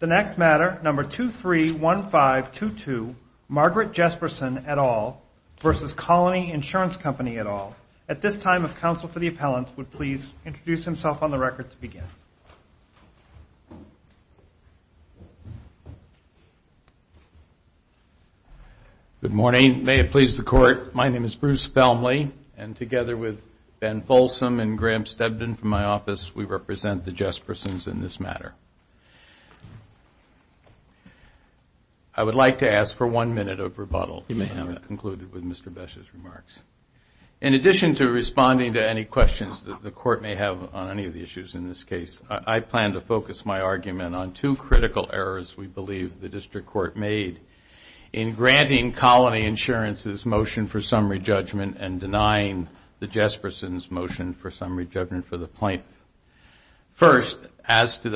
The next matter, number 231522, Margaret Jespersen et al. versus Colony Insurance Company et al. At this time, if counsel for the appellant would please introduce himself on the record to begin. Good morning. May it please the Court, my name is Bruce Felmley, and together with Ben Folsom and Graham Stebden from my office, we represent the Jespersens in this matter. I would like to ask for one minute of rebuttal. You may have it. Concluded with Mr. Besch's remarks. In addition to responding to any questions that the Court may have on any of the issues in this case, I plan to focus my argument on two critical errors we believe the District Court made in granting Colony Insurance's motion for summary judgment and denying the Jespersens' motion for summary judgment for the plaintiff. First, as to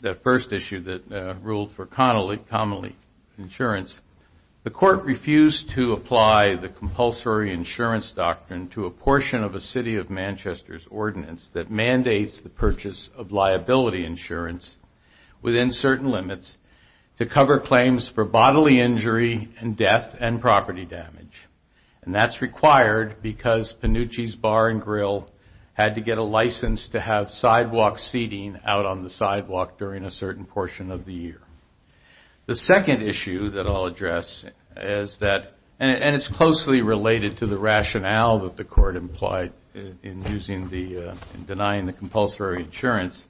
that first issue that ruled for common insurance, the Court refused to apply the compulsory insurance doctrine to a portion of a City of Manchester's ordinance that mandates the purchase of liability insurance within certain limits to cover claims for bodily injury and death and property damage. And that's required because Panucci's Bar and Grill had to get a license to have sidewalk seating out on the sidewalk during a certain portion of the year. The second issue that I'll address, and it's closely related to the rationale that the Court implied in denying the compulsory insurance,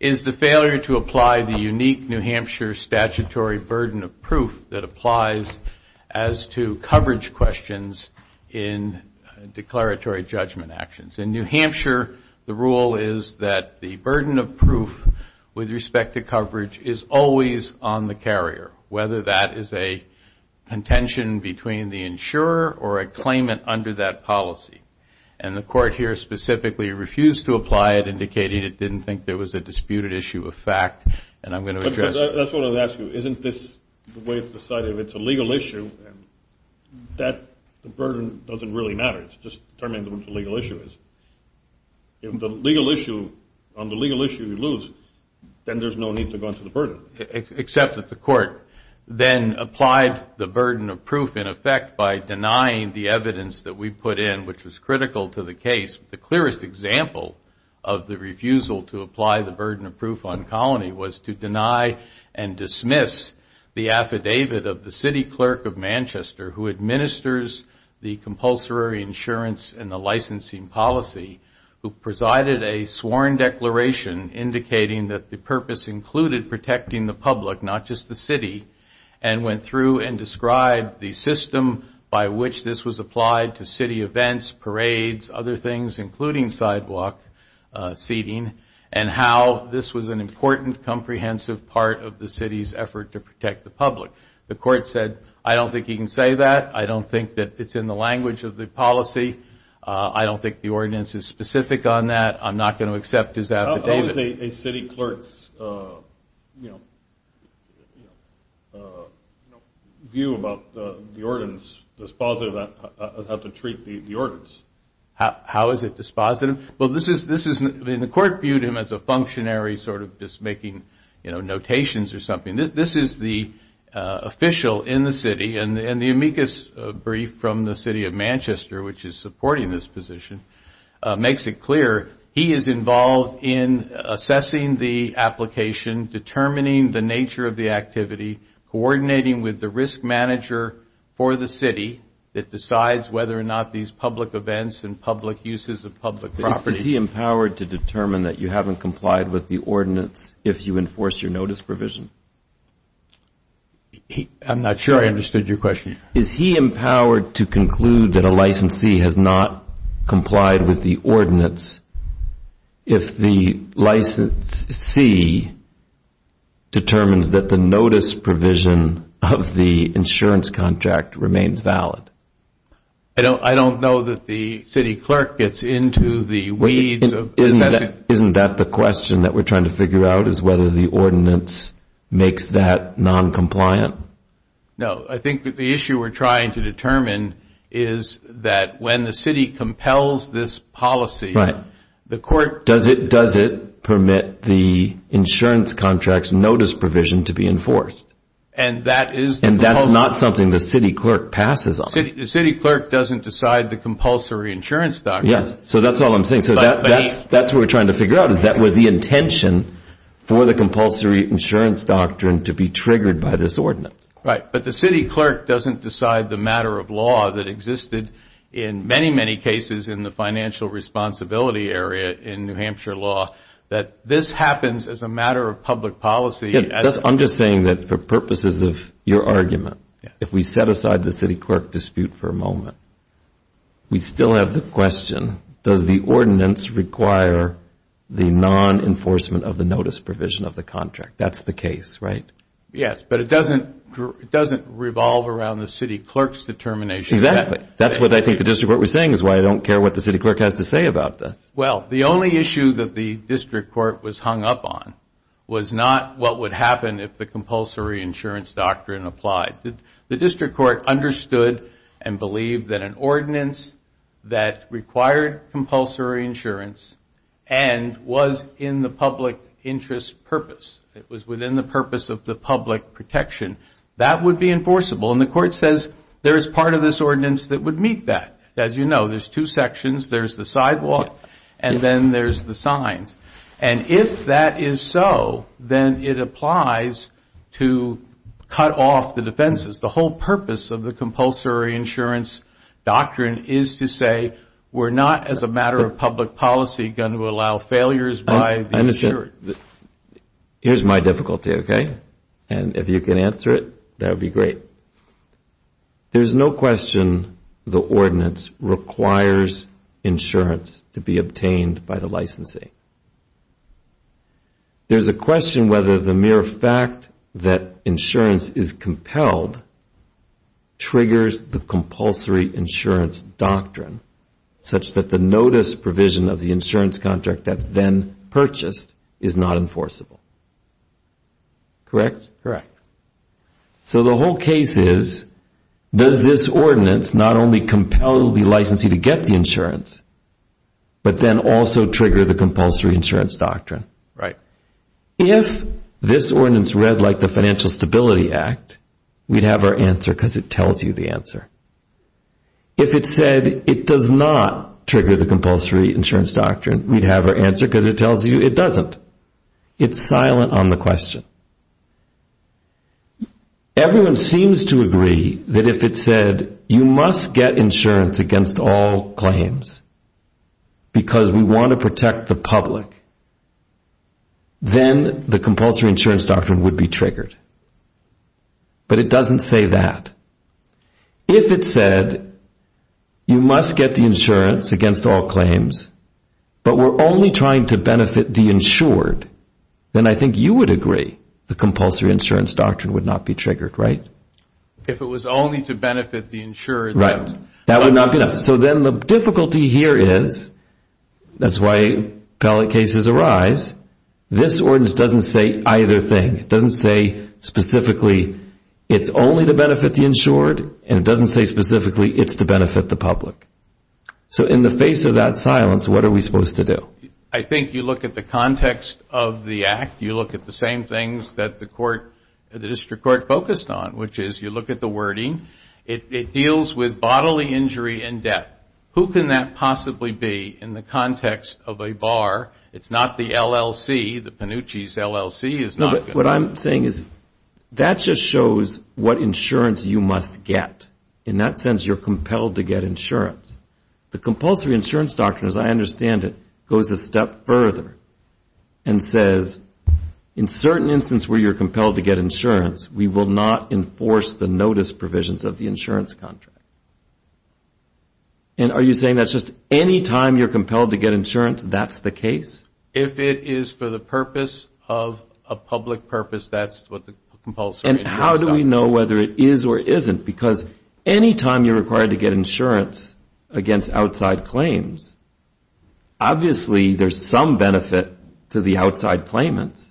is the failure to apply the unique New Hampshire statutory burden of proof that applies as to coverage questions in declaratory judgment actions. In New Hampshire, the rule is that the burden of proof with respect to coverage is always on the carrier, whether that is a contention between the insurer or a claimant under that policy. And the Court here specifically refused to apply it, indicating it didn't think there was a disputed issue of fact, and I'm going to address it. That's what I was going to ask you. Isn't this the way it's decided? If it's a legal issue, the burden doesn't really matter. It's just determining what the legal issue is. If on the legal issue you lose, then there's no need to go into the burden. Except that the Court then applied the burden of proof, in effect, by denying the evidence that we put in, which was critical to the case. The clearest example of the refusal to apply the burden of proof on colony was to deny and dismiss the affidavit of the city clerk of Manchester, who administers the compulsory insurance and the licensing policy, who presided a sworn declaration indicating that the purpose included protecting the public, not just the city, and went through and described the system by which this was applied to city events, parades, other things, including sidewalk seating, and how this was an important comprehensive part of the city's effort to protect the public. The Court said, I don't think he can say that. I don't think that it's in the language of the policy. I don't think the ordinance is specific on that. I'm not going to accept his affidavit. How is a city clerk's view about the ordinance dispositive of how to treat the ordinance? How is it dispositive? Well, the Court viewed him as a functionary sort of just making notations or something. This is the official in the city, and the amicus brief from the city of Manchester, which is supporting this position, makes it clear he is involved in assessing the application, determining the nature of the activity, coordinating with the risk manager for the city that decides whether or not these public events and public uses of public property. Is he empowered to determine that you haven't complied with the ordinance if you enforce your notice provision? I'm not sure I understood your question. Is he empowered to conclude that a licensee has not complied with the ordinance if the licensee determines that the notice provision of the insurance contract remains valid? I don't know that the city clerk gets into the weeds of assessing. Isn't that the question that we're trying to figure out is whether the ordinance makes that noncompliant? No, I think that the issue we're trying to determine is that when the city compels this policy, the court- Does it permit the insurance contract's notice provision to be enforced? And that is- And that's not something the city clerk passes on. The city clerk doesn't decide the compulsory insurance doctrine. Yes, so that's all I'm saying. So that's what we're trying to figure out is that was the intention for the compulsory insurance doctrine to be triggered by this ordinance. Right, but the city clerk doesn't decide the matter of law that existed in many, many cases in the financial responsibility area in New Hampshire law that this happens as a matter of public policy. I'm just saying that for purposes of your argument, if we set aside the city clerk dispute for a moment, we still have the question, does the ordinance require the non-enforcement of the notice provision of the contract? That's the case, right? Yes, but it doesn't revolve around the city clerk's determination. Exactly. That's what I think the district court was saying is why I don't care what the city clerk has to say about this. Well, the only issue that the district court was hung up on was not what would happen if the compulsory insurance doctrine applied. The district court understood and believed that an ordinance that required compulsory insurance and was in the public interest purpose, it was within the purpose of the public protection, that would be enforceable. And the court says there is part of this ordinance that would meet that. As you know, there's two sections. There's the sidewalk and then there's the signs. And if that is so, then it applies to cut off the defenses. The whole purpose of the compulsory insurance doctrine is to say we're not, as a matter of public policy, going to allow failures by the insurer. Here's my difficulty, okay? And if you can answer it, that would be great. There's no question the ordinance requires insurance to be obtained by the licensing. There's a question whether the mere fact that insurance is compelled triggers the compulsory insurance doctrine such that the notice provision of the insurance contract that's then purchased is not enforceable. Correct? Correct. So the whole case is, does this ordinance not only compel the licensee to get the insurance, but then also trigger the compulsory insurance doctrine? Right. If this ordinance read like the Financial Stability Act, we'd have our answer because it tells you the answer. If it said it does not trigger the compulsory insurance doctrine, we'd have our answer because it tells you it doesn't. It's silent on the question. Everyone seems to agree that if it said you must get insurance against all claims because we want to protect the public, then the compulsory insurance doctrine would be triggered. But it doesn't say that. If it said you must get the insurance against all claims, but we're only trying to benefit the insured, then I think you would agree the compulsory insurance doctrine would not be triggered, right? If it was only to benefit the insured. Right. That would not be enough. So then the difficulty here is, that's why appellate cases arise, this ordinance doesn't say either thing. It doesn't say specifically it's only to benefit the insured, and it doesn't say specifically it's to benefit the public. So in the face of that silence, what are we supposed to do? Well, I think you look at the context of the act, you look at the same things that the court, the district court focused on, which is you look at the wording. It deals with bodily injury and death. Who can that possibly be in the context of a bar? It's not the LLC, the Panucci's LLC. No, but what I'm saying is that just shows what insurance you must get. In that sense, you're compelled to get insurance. The compulsory insurance doctrine, as I understand it, goes a step further and says in certain instances where you're compelled to get insurance, we will not enforce the notice provisions of the insurance contract. And are you saying that's just any time you're compelled to get insurance, that's the case? If it is for the purpose of a public purpose, that's what the compulsory insurance doctrine is. And how do we know whether it is or isn't? Because any time you're required to get insurance against outside claims, obviously there's some benefit to the outside claimants.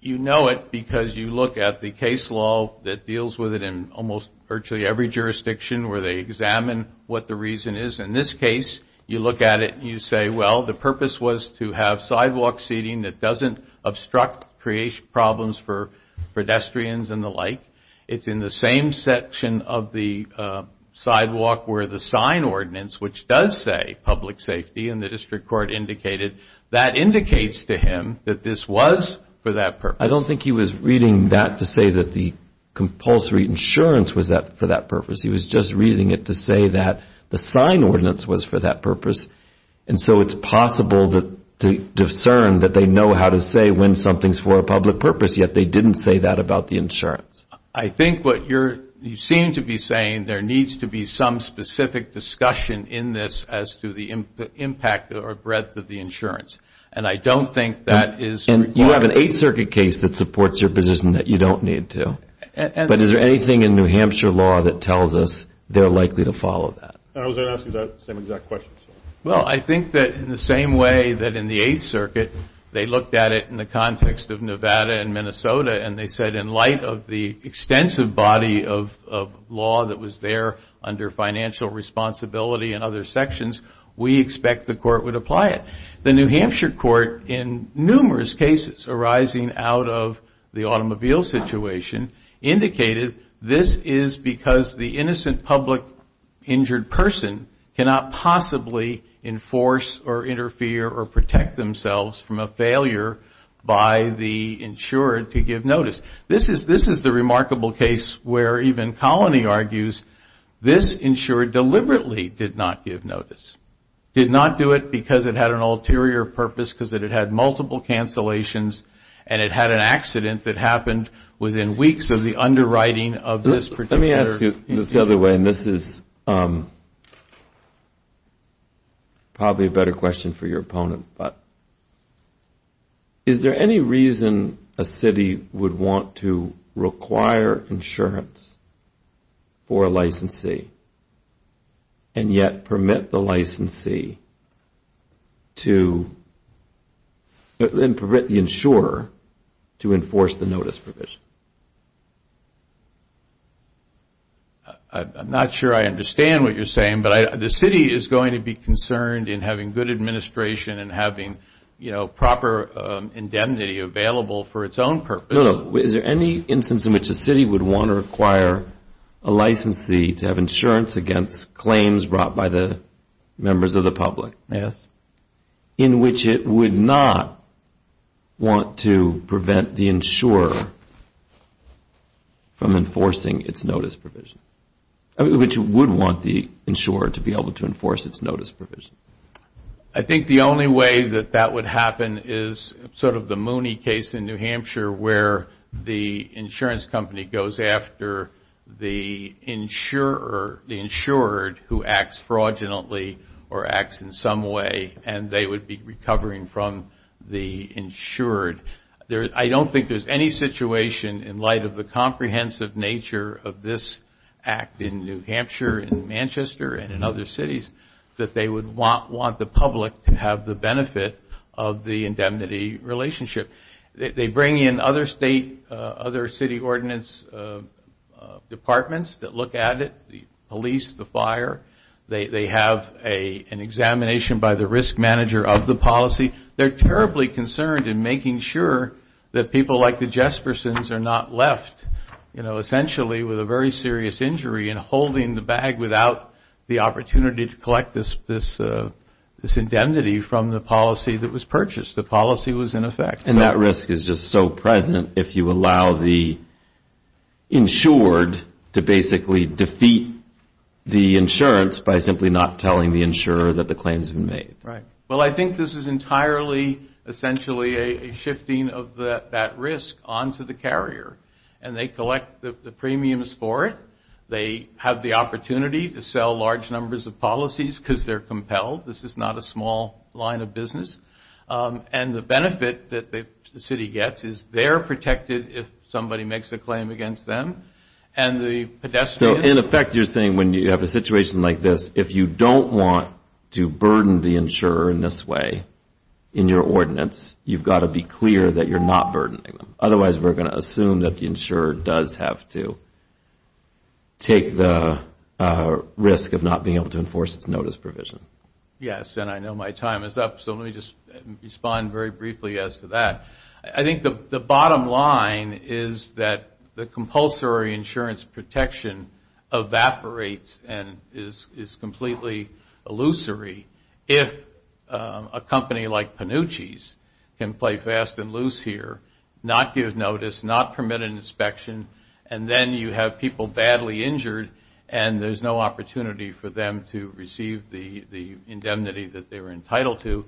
You know it because you look at the case law that deals with it in almost virtually every jurisdiction where they examine what the reason is. In this case, you look at it and you say, well, the purpose was to have sidewalk seating that doesn't obstruct problems for pedestrians and the like. It's in the same section of the sidewalk where the sign ordinance, which does say public safety and the district court indicated, that indicates to him that this was for that purpose. I don't think he was reading that to say that the compulsory insurance was for that purpose. He was just reading it to say that the sign ordinance was for that purpose. And so it's possible to discern that they know how to say when something is for a public purpose, yet they didn't say that about the insurance. I think what you seem to be saying, there needs to be some specific discussion in this as to the impact or breadth of the insurance. And I don't think that is required. And you have an Eighth Circuit case that supports your position that you don't need to. But is there anything in New Hampshire law that tells us they're likely to follow that? I was going to ask you that same exact question. Well, I think that in the same way that in the Eighth Circuit, they looked at it in the context of Nevada and Minnesota, and they said in light of the extensive body of law that was there under financial responsibility and other sections, we expect the court would apply it. The New Hampshire court, in numerous cases arising out of the automobile situation, indicated this is because the innocent public injured person cannot possibly enforce or interfere or protect themselves from a failure by the insured to give notice. This is the remarkable case where even Colony argues this insured deliberately did not give notice. Did not do it because it had an ulterior purpose, because it had multiple cancellations, and it had an accident that happened within weeks of the underwriting of this particular incident. Let me ask you this the other way, and this is probably a better question for your opponent, but is there any reason a city would want to require insurance for a licensee, and yet permit the licensee to, and permit the insured to, enforce the notice provision? I'm not sure I understand what you're saying, but the city is going to be concerned in having good administration and having proper indemnity available for its own purpose. Is there any instance in which a city would want to require a licensee to have insurance against claims brought by the members of the public, in which it would not want to prevent the insurer from enforcing its notice provision, which would want the insurer to be able to enforce its notice provision? I think the only way that that would happen is sort of the Mooney case in New Hampshire where the insurance company goes after the insured who acts fraudulently or acts in some way, and they would be recovering from the insured. I don't think there's any situation in light of the comprehensive nature of this act in New Hampshire, in Manchester, and in other cities that they would want the public to have the benefit of the indemnity relationship. They bring in other state, other city ordinance departments that look at it, the police, the fire. They have an examination by the risk manager of the policy. They're terribly concerned in making sure that people like the Jespersons are not left, you know, essentially with a very serious injury and holding the bag without the opportunity to collect this indemnity from the policy that was purchased. The policy was in effect. And that risk is just so present if you allow the insured to basically defeat the insurance by simply not telling the insurer that the claims have been made. Right. Well, I think this is entirely essentially a shifting of that risk onto the carrier, and they collect the premiums for it. They have the opportunity to sell large numbers of policies because they're compelled. This is not a small line of business. And the benefit that the city gets is they're protected if somebody makes a claim against them. So in effect you're saying when you have a situation like this, if you don't want to burden the insurer in this way in your ordinance, you've got to be clear that you're not burdening them. Otherwise we're going to assume that the insurer does have to take the risk of not being able to enforce its notice provision. Yes, and I know my time is up, so let me just respond very briefly as to that. I think the bottom line is that the compulsory insurance protection evaporates and is completely illusory. If a company like Panucci's can play fast and loose here, not give notice, not permit an inspection, and then you have people badly injured and there's no opportunity for them to receive the indemnity that they were entitled to.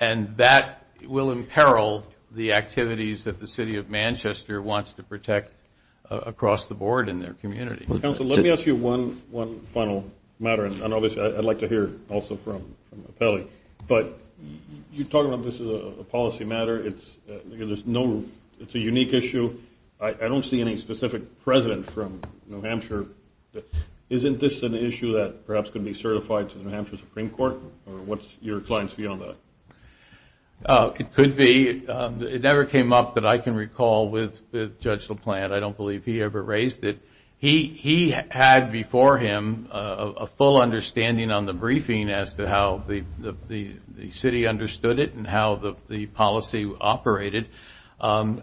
And that will imperil the activities that the city of Manchester wants to protect across the board in their community. Counsel, let me ask you one final matter. And obviously I'd like to hear also from Appelli. But you talk about this as a policy matter. It's a unique issue. I don't see any specific president from New Hampshire. Isn't this an issue that perhaps could be certified to the New Hampshire Supreme Court? It could be. It never came up that I can recall with Judge LaPlante. I don't believe he ever raised it. He had before him a full understanding on the briefing as to how the city understood it and how the policy operated. On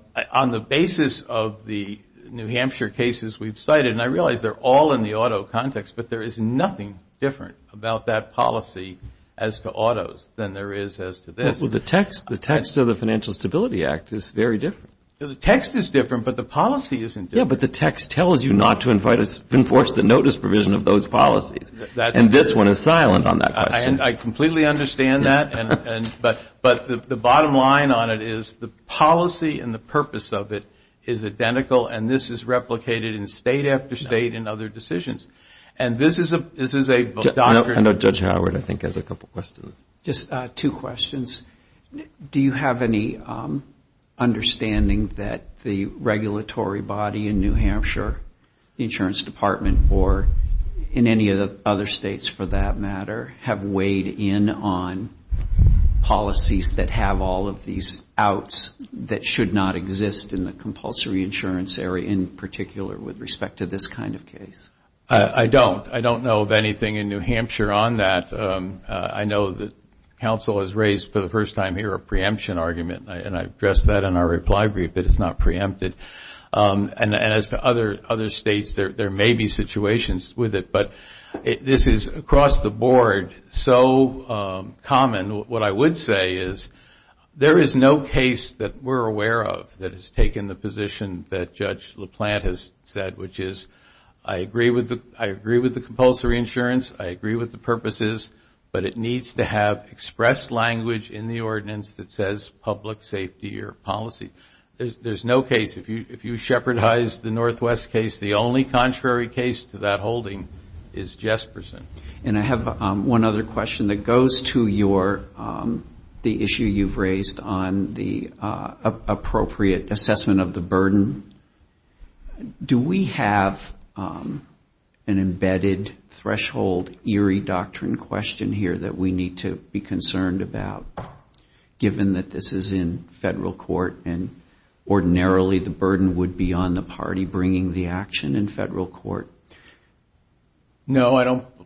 the basis of the New Hampshire cases we've cited, and I realize they're all in the auto context, but there is nothing different about that policy as to autos than there is as to this. Well, the text of the Financial Stability Act is very different. The text is different, but the policy isn't different. Yeah, but the text tells you not to enforce the notice provision of those policies. And this one is silent on that question. I completely understand that. But the bottom line on it is the policy and the purpose of it is identical and this is replicated in state after state in other decisions. I know Judge Howard I think has a couple of questions. Just two questions. Do you have any understanding that the regulatory body in New Hampshire, the insurance department, or in any of the other states for that matter, have weighed in on policies that have all of these outs that should not exist in the compulsory insurance area in particular with respect to this kind of case? I don't. I don't know of anything in New Hampshire on that. I know that counsel has raised for the first time here a preemption argument and I addressed that in our reply brief, but it's not preempted. And as to other states, there may be situations with it, but this is across the board so common. What I would say is there is no case that we're aware of that has taken the position that Judge LaPlante has said, which is I agree with the compulsory insurance, I agree with the purposes, but it needs to have expressed language in the ordinance that says public safety or policy. There's no case. If you shepherdize the Northwest case, the only contrary case to that holding is Jesperson. And I have one other question that goes to the issue you've raised on the appropriate assessment of the burden. Do we have an embedded threshold eerie doctrine question here that we need to be concerned about, given that this is in federal court and ordinarily the burden would be on the party bringing the action in federal court? No,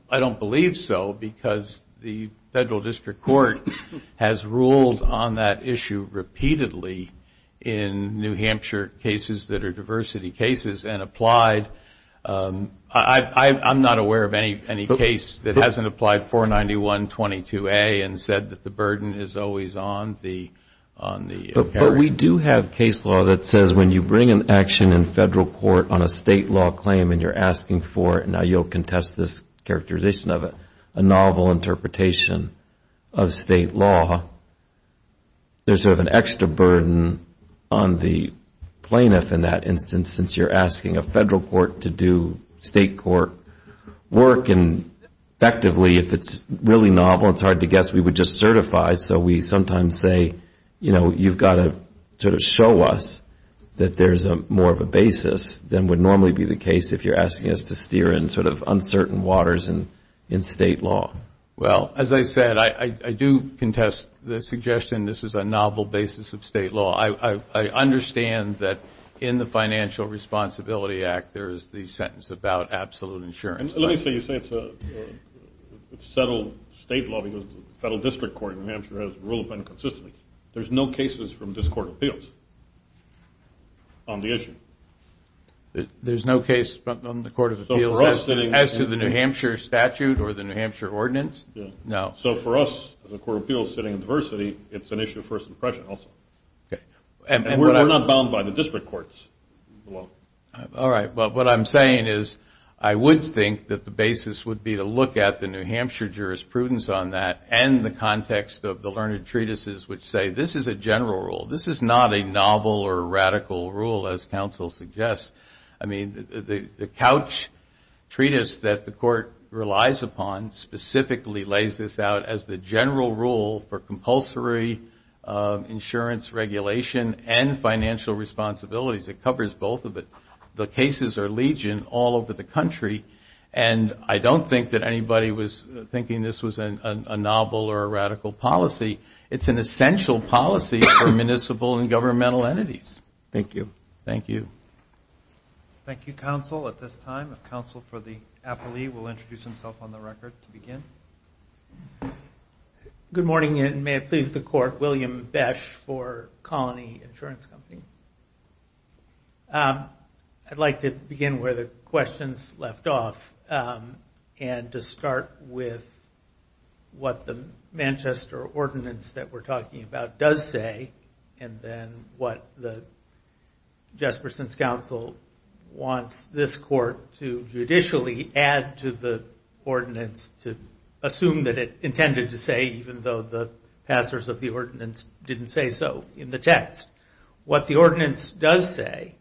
I don't believe so, because the federal district court has ruled on that issue repeatedly in New Hampshire cases that are diversity cases and applied. I'm not aware of any case that hasn't applied 49122A and said that the burden is always on the. But we do have case law that says when you bring an action in federal court on a state law claim and you're asking for, now you'll contest this characterization of it, a novel interpretation of state law, there's sort of an extra burden on the plaintiff in that instance, since you're asking a federal court to do state court work. And effectively, if it's really novel, it's hard to guess, we would just certify. So we sometimes say, you know, you've got to sort of show us that there's more of a basis than would normally be the case if you're asking us to steer in sort of uncertain waters in state law. Well, as I said, I do contest the suggestion this is a novel basis of state law. I understand that in the Financial Responsibility Act there is the sentence about absolute insurance. Let me say you say it's settled state law because the federal district court in New Hampshire has ruled on it consistently. There's no cases from this court of appeals on the issue. There's no case on the court of appeals as to the New Hampshire statute or the New Hampshire ordinance? No. So for us, the court of appeals sitting in diversity, it's an issue of first impression also. And we're not bound by the district courts. All right. But what I'm saying is I would think that the basis would be to look at the New Hampshire jurisprudence on that and typically lays this out as the general rule for compulsory insurance regulation and financial responsibilities. It covers both of it. The cases are legion all over the country and I don't think that anybody was thinking this was a novel or a radical policy. It's an essential policy for municipal and governmental entities. Thank you. Thank you, counsel, at this time. Good morning and may it please the court, William Besch for Colony Insurance Company. I'd like to begin where the questions left off and to start with what the Manchester ordinance that we're talking about does say and then what Jespersen's counsel wants this court to judicially add to the ordinance to assume that it intended to say even though the passers of the ordinance didn't say so in the text. What the ordinance does say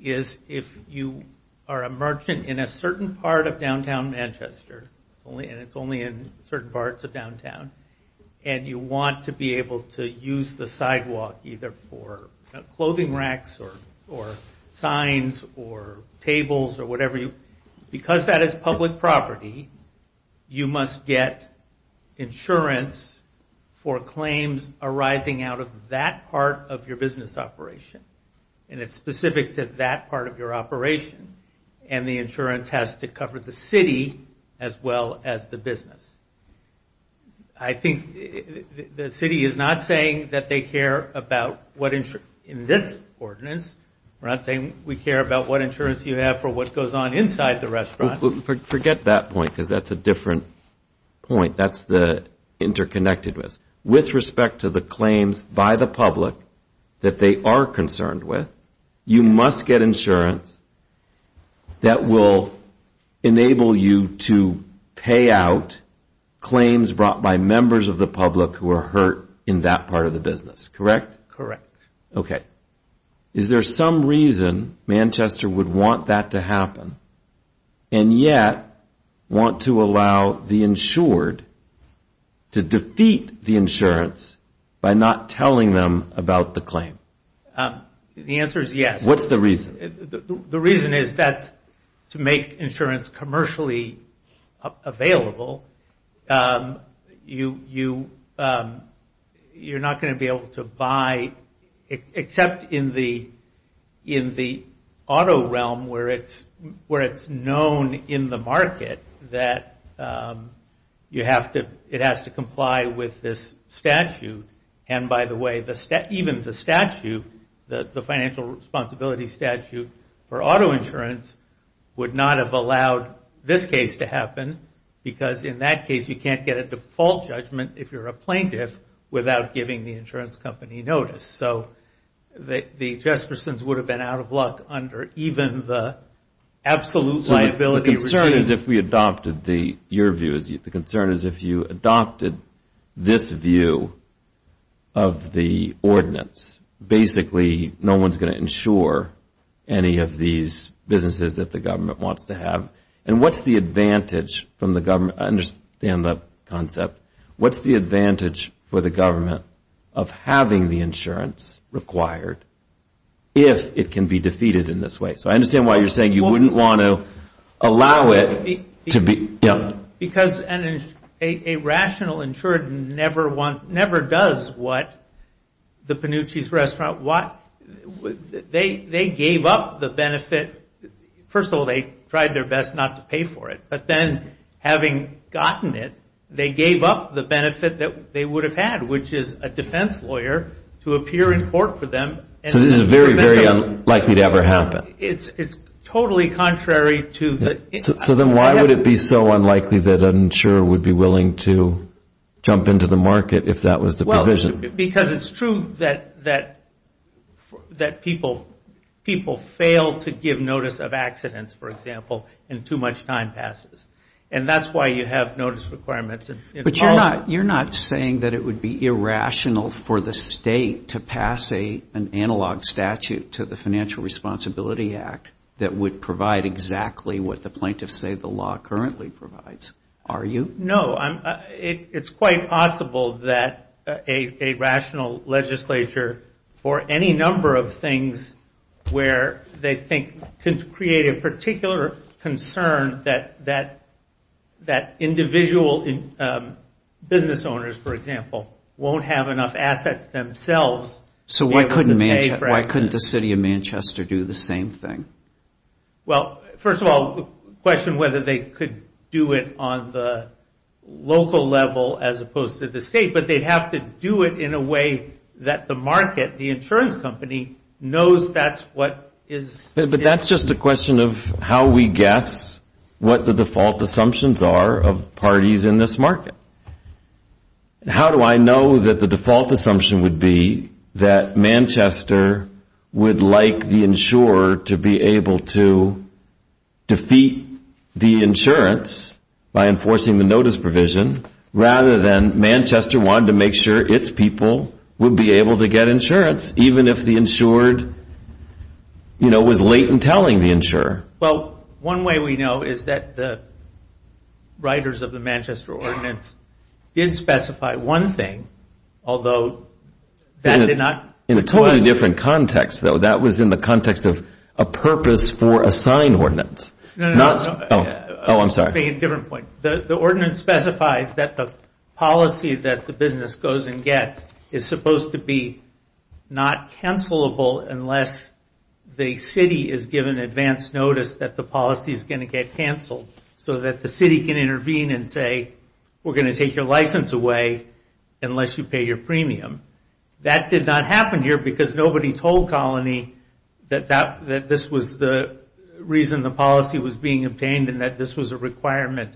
is if you are a merchant in a certain part of downtown Manchester, and it's only in certain parts of downtown, and you want to be able to use the sidewalk either for clothing racks or signs or tables or whatever, because that is public property, you must get insurance for claims arising out of that part of your business operation. And it's specific to that part of your operation. And the insurance has to cover the city as well as the business. I think the city is not saying that they care about what in this ordinance. We're not saying we care about what insurance you have for what goes on inside the restaurant. Forget that point because that's a different point. That's the interconnectedness. With respect to the claims by the public that they are concerned with, you must get insurance that will enable you to pay out claims brought by members of the public who are hurt in that part of the business. Correct? Correct. Okay. Is there some reason Manchester would want that to happen and yet want to allow the insured to defeat the insurance by not telling them about the claim? The answer is yes. What's the reason? The reason is to make insurance commercially available. You're not going to be able to buy, except in the auto realm where it's known in the market that it has to comply with this statute. And by the way, even the statute, the financial responsibility statute for auto insurance, would not have allowed this case to happen because in that case, you can't get a default judgment if you're a plaintiff without giving the insurance company notice. So the Jestersons would have been out of luck under even the absolute liability. The concern is if we adopted your view. Of the ordinance, basically no one is going to insure any of these businesses that the government wants to have. And what's the advantage from the government, I understand the concept, what's the advantage for the government of having the insurance required if it can be defeated in this way? So I understand why you're saying you wouldn't want to allow it to be. Because a rational insured never does what the Panucci's restaurant, they gave up the benefit, first of all they tried their best not to pay for it, but then having gotten it, they gave up the benefit that they would have had, which is a defense lawyer to appear in court for them. So this is very, very unlikely to ever happen. It's totally contrary to the... So then why would it be so unlikely that an insurer would be willing to jump into the market if that was the provision? Because it's true that people fail to give notice of accidents, for example, and too much time passes. And that's why you have notice requirements. But you're not saying that it would be irrational for the state to pass an analog statute to the Financial Responsibility Act that would provide exactly what the plaintiffs say the law currently provides, are you? No, it's quite possible that a rational legislature for any number of things where they think could create a particular concern that individual business owners, for example, won't have enough assets themselves. So why couldn't the city of Manchester do the same thing? Well, first of all, the question whether they could do it on the local level as opposed to the state, but they'd have to do it in a way that the market, the insurance company, knows that's what is... But that's just a question of how we guess what the default assumptions are of parties in this market. How do I know that the default assumption would be that Manchester would like the insurer to be able to defeat the insurance by enforcing the notice provision rather than Manchester wanted to make sure its people would be able to get insurance, even if the insured was late in telling the insurer? Well, one way we know is that the writers of the Manchester Ordinance did specify one thing, although that did not... In a totally different context, though. That was in the context of a purpose for a signed ordinance. No, no, no. Oh, I'm sorry. The ordinance specifies that the policy that the business goes and gets is supposed to be not cancelable unless the city is given advance notice that the policy is going to get canceled so that the city can intervene and say, we're going to take your license away unless you pay your premium. That did not happen here because nobody told Colony that this was the reason the policy was being obtained and that this was a requirement.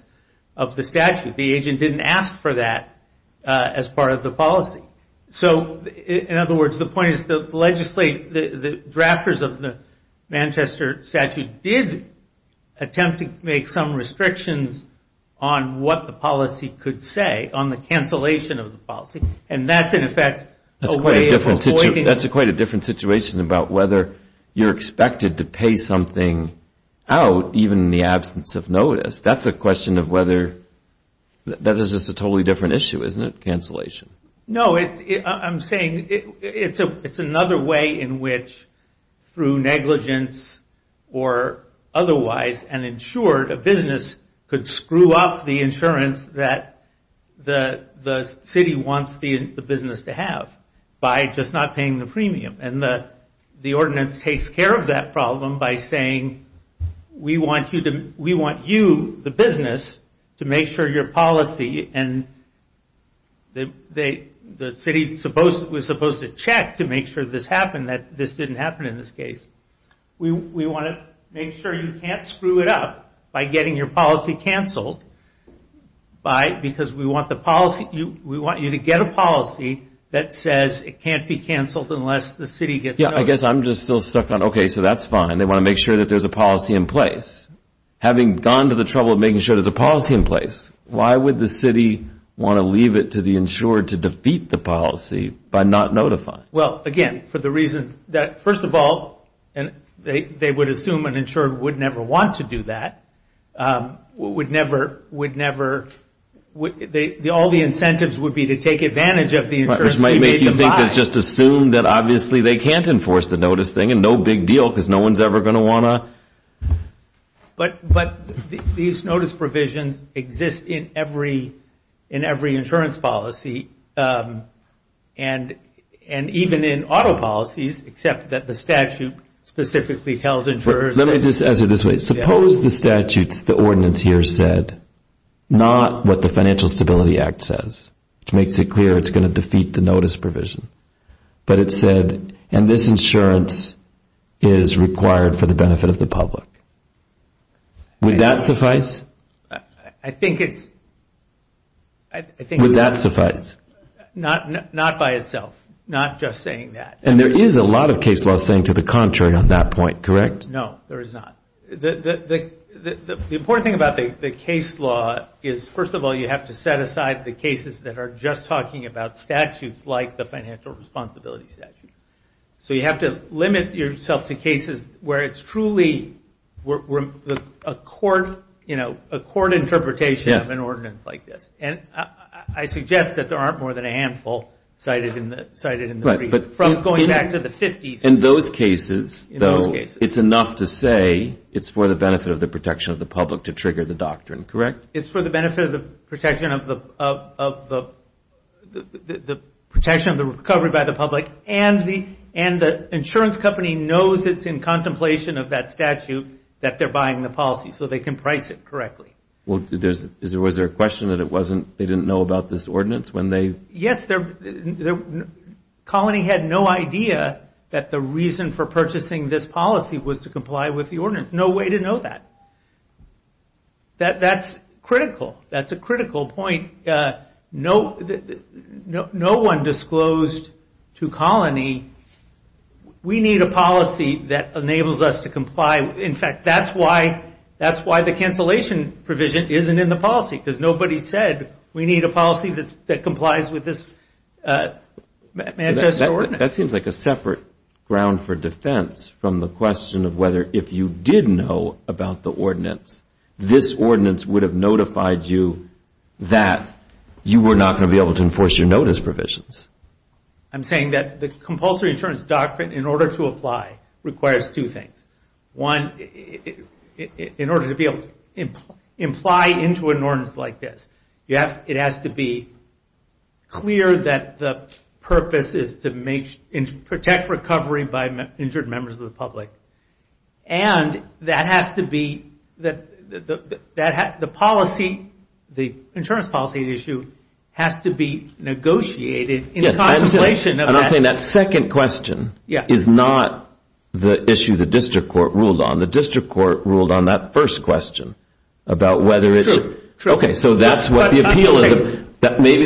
The agent didn't ask for that as part of the policy. In other words, the point is the drafters of the Manchester statute did attempt to make some restrictions on what the policy could say, on the cancellation of the policy, and that's in effect a way of avoiding... That's quite a different situation about whether you're expected to pay something out even in the absence of notice. That's a question of whether... That is just a totally different issue, isn't it, cancellation? No, I'm saying it's another way in which through negligence or otherwise an insured, a business could screw up the insurance that the city wants the business to have by just not paying the premium. The ordinance takes care of that problem by saying, we want you, the business, to make sure your policy... The city was supposed to check to make sure this happened, that this didn't happen in this case. We want to make sure you can't screw it up by getting your policy canceled because we want you to get a policy that says it can't be canceled. I guess I'm just still stuck on, okay, so that's fine. They want to make sure that there's a policy in place. Having gone to the trouble of making sure there's a policy in place, why would the city want to leave it to the insured to defeat the policy by not notifying? Well, again, for the reasons that, first of all, they would assume an insured would never want to do that, would never... All the incentives would be to take advantage of the insurance. Which might make you think it's just assumed that obviously they can't enforce the notice thing, and no big deal because no one's ever going to want to... But these notice provisions exist in every insurance policy. And even in auto policies, except that the statute specifically tells insurers... Let me just answer this way. Suppose the statutes, the ordinance here said, not what the Financial Stability Act says, which makes it clear it's going to defeat the notice provision, but it said, and this insurance is required for the benefit of the public. Would that suffice? Not by itself. Not just saying that. And there is a lot of case law saying to the contrary on that point, correct? No, there is not. The important thing about the case law is, first of all, you have to set aside the cases that are just talking about statutes like the financial responsibility statute. So you have to limit yourself to cases where it's truly a court interpretation of an ordinance like this. And I suggest that there aren't more than a handful cited in the brief. From going back to the 50s. In those cases, though, it's enough to say it's for the benefit of the protection of the public to trigger the doctrine, correct? It's for the benefit of the protection of the recovery by the public. And the insurance company knows it's in contemplation of that statute that they're buying the policy. So they can price it correctly. Yes, Colony had no idea that the reason for purchasing this policy was to comply with the ordinance. There's no way to know that. That's critical. That's a critical point. No one disclosed to Colony, we need a policy that enables us to comply. In fact, that's why the cancellation provision isn't in the policy. Because nobody said we need a policy that complies with this. That seems like a separate ground for defense from the question of whether if you did know about the ordinance, this ordinance would have notified you that you were not going to be able to enforce your notice provisions. I'm saying that the compulsory insurance doctrine, in order to apply, requires two things. One, in order to be able to imply into an ordinance like this. It has to be clear that the purpose is to protect recovery by injured members of the public. And that has to be, the policy, the insurance policy issue, has to be negotiated in contemplation of that. That second question is not the issue the district court ruled on. The district court ruled on that first question. Maybe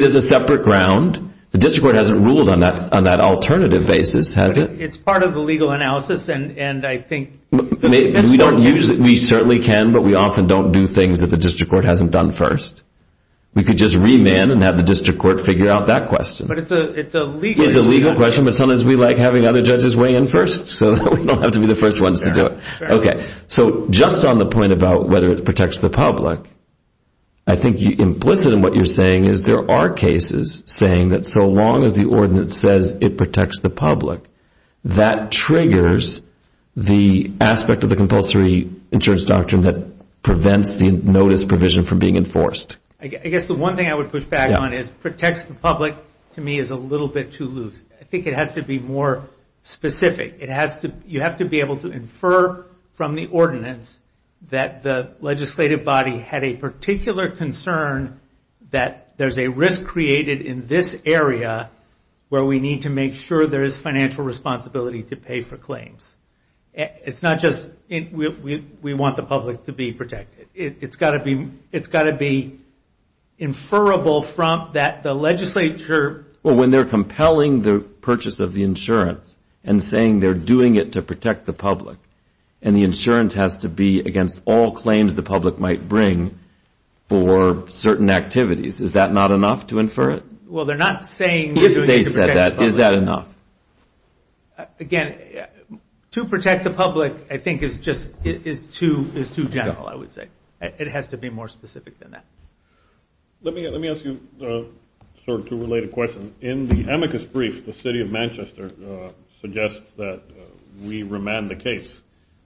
there's a separate ground. The district court hasn't ruled on that alternative basis, has it? We certainly can, but we often don't do things that the district court hasn't done first. We could just remand and have the district court figure out that question. It's a legal question, but sometimes we like having other judges weigh in first so that we don't have to be the first ones to do it. So just on the point about whether it protects the public, I think implicit in what you're saying is there are cases saying that so long as the ordinance says it protects the public, that triggers the aspect of the compulsory insurance doctrine that prevents the notice provision from being enforced. I guess the one thing I would push back on is protects the public to me is a little bit too loose. I think it has to be more specific. You have to be able to infer from the ordinance that the legislative body had a particular concern that there's a risk created in this area where we need to make sure there is financial responsibility to pay for claims. It's not just we want the public to be protected. It's got to be inferrable from the legislature. When they're compelling the purchase of the insurance and saying they're doing it to protect the public, and the insurance has to be against all claims the public might bring for certain activities, is that not enough to infer it? Again, to protect the public I think is too general, I would say. It has to be more specific than that. Let me ask you two related questions. In the amicus brief, the city of Manchester suggests that we remand the case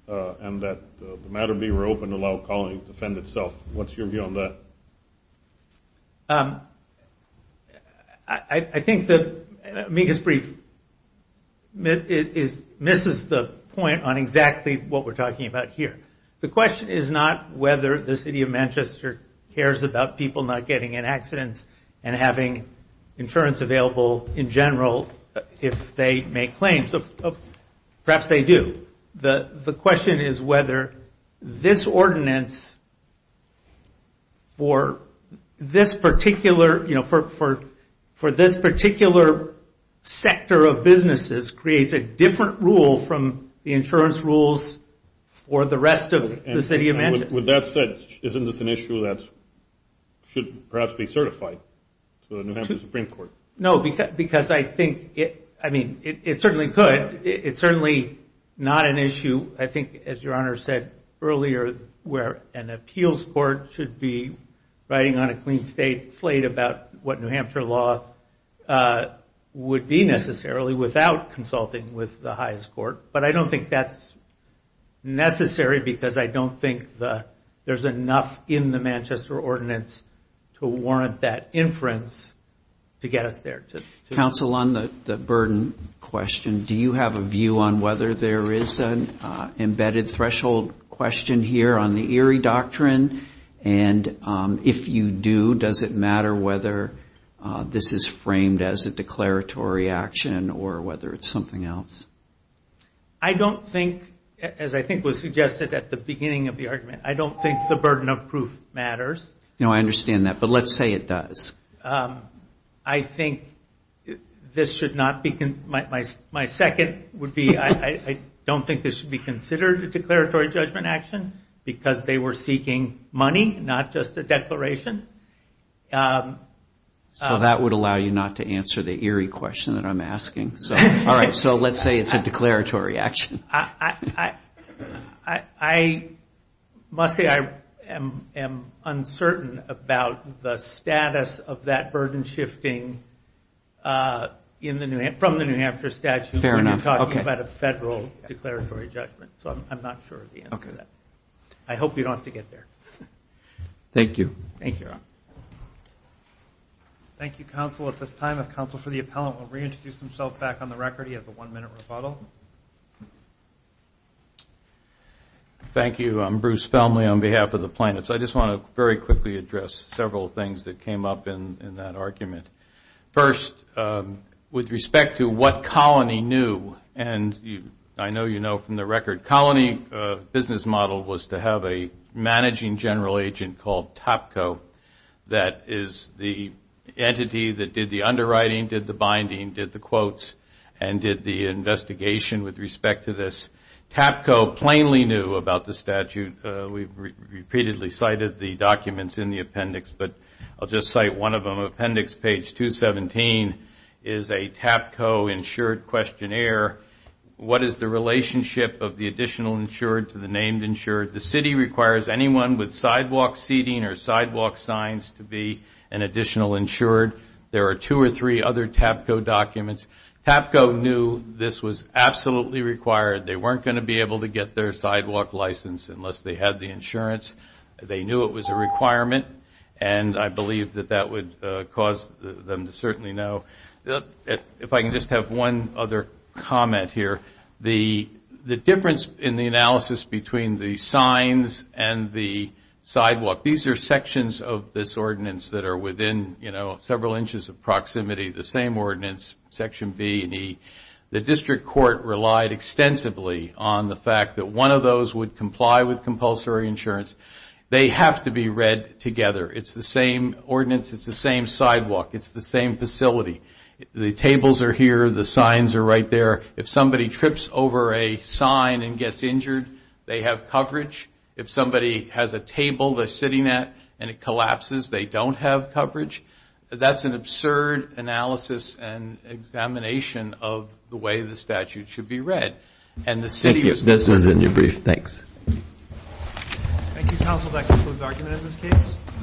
and that the matter be reopened to allow the colony to defend itself. What's your view on that? I think the amicus brief misses the point on exactly what we're talking about here. The question is not whether the city of Manchester cares about people not getting in accidents and having insurance available in general if they make claims. Perhaps they do. The question is whether this ordinance for this particular sector of businesses creates a different rule from the insurance rules for the rest of the city of Manchester. With that said, isn't this an issue that should perhaps be certified to the New Hampshire Supreme Court? No, because I think it certainly could. It's certainly not an issue, I think as your Honor said earlier, where an appeals court should be writing on a clean slate about what New Hampshire law would be necessarily without consulting with the highest court. I don't think that's necessary because I don't think there's enough in the Manchester ordinance to warrant that inference to get us there. Counsel, on the burden question, do you have a view on whether there is an embedded threshold question here on the Erie Doctrine? And if you do, does it matter whether this is framed as a declaratory action or whether it's something else? I don't think, as I think was suggested at the beginning of the argument, I don't think the burden of proof matters. My second would be I don't think this should be considered a declaratory judgment action because they were seeking money, not just a declaration. So that would allow you not to answer the Erie question that I'm asking. All right, so let's say it's a declaratory action. I must say I am uncertain about the status of that burden shifting action. From the New Hampshire statute, we're not talking about a federal declaratory judgment, so I'm not sure of the answer to that. I hope you don't have to get there. Thank you. Thank you. I'm Bruce Felmley on behalf of the plaintiffs. I just want to very quickly address several things that came up in that argument. First, with respect to what Colony knew, and I know you know from the record, Colony business model was to have a managing general agent called Topco that is the entity that did the underwriting, did the binding, did the quotes, and did the investigation with respect to this. Topco plainly knew about the statute. We've repeatedly cited the documents in the appendix, but I'll just cite one of them. Appendix page 217 is a Topco insured questionnaire. What is the relationship of the additional insured to the named insured? The city requires anyone with sidewalk seating or sidewalk signs to be an additional insured. There are two or three other Topco documents. Topco knew this was absolutely required. They weren't going to be able to get their sidewalk license unless they had the insurance. They knew it was a requirement, and I believe that that would cause them to certainly know. If I can just have one other comment here. The difference in the analysis between the signs and the sidewalk, these are sections of this ordinance that are within several inches of proximity, the same ordinance, section B and E. The district court relied extensively on the fact that one of those would comply with compulsory insurance. They have to be read together. It's the same ordinance, it's the same sidewalk, it's the same facility. The tables are here, the signs are right there. If somebody trips over a sign and gets injured, they have coverage. If somebody has a table they're sitting at and it collapses, they don't have coverage. That's an absurd analysis and examination of the way the statute should be read. This was in your brief, thanks.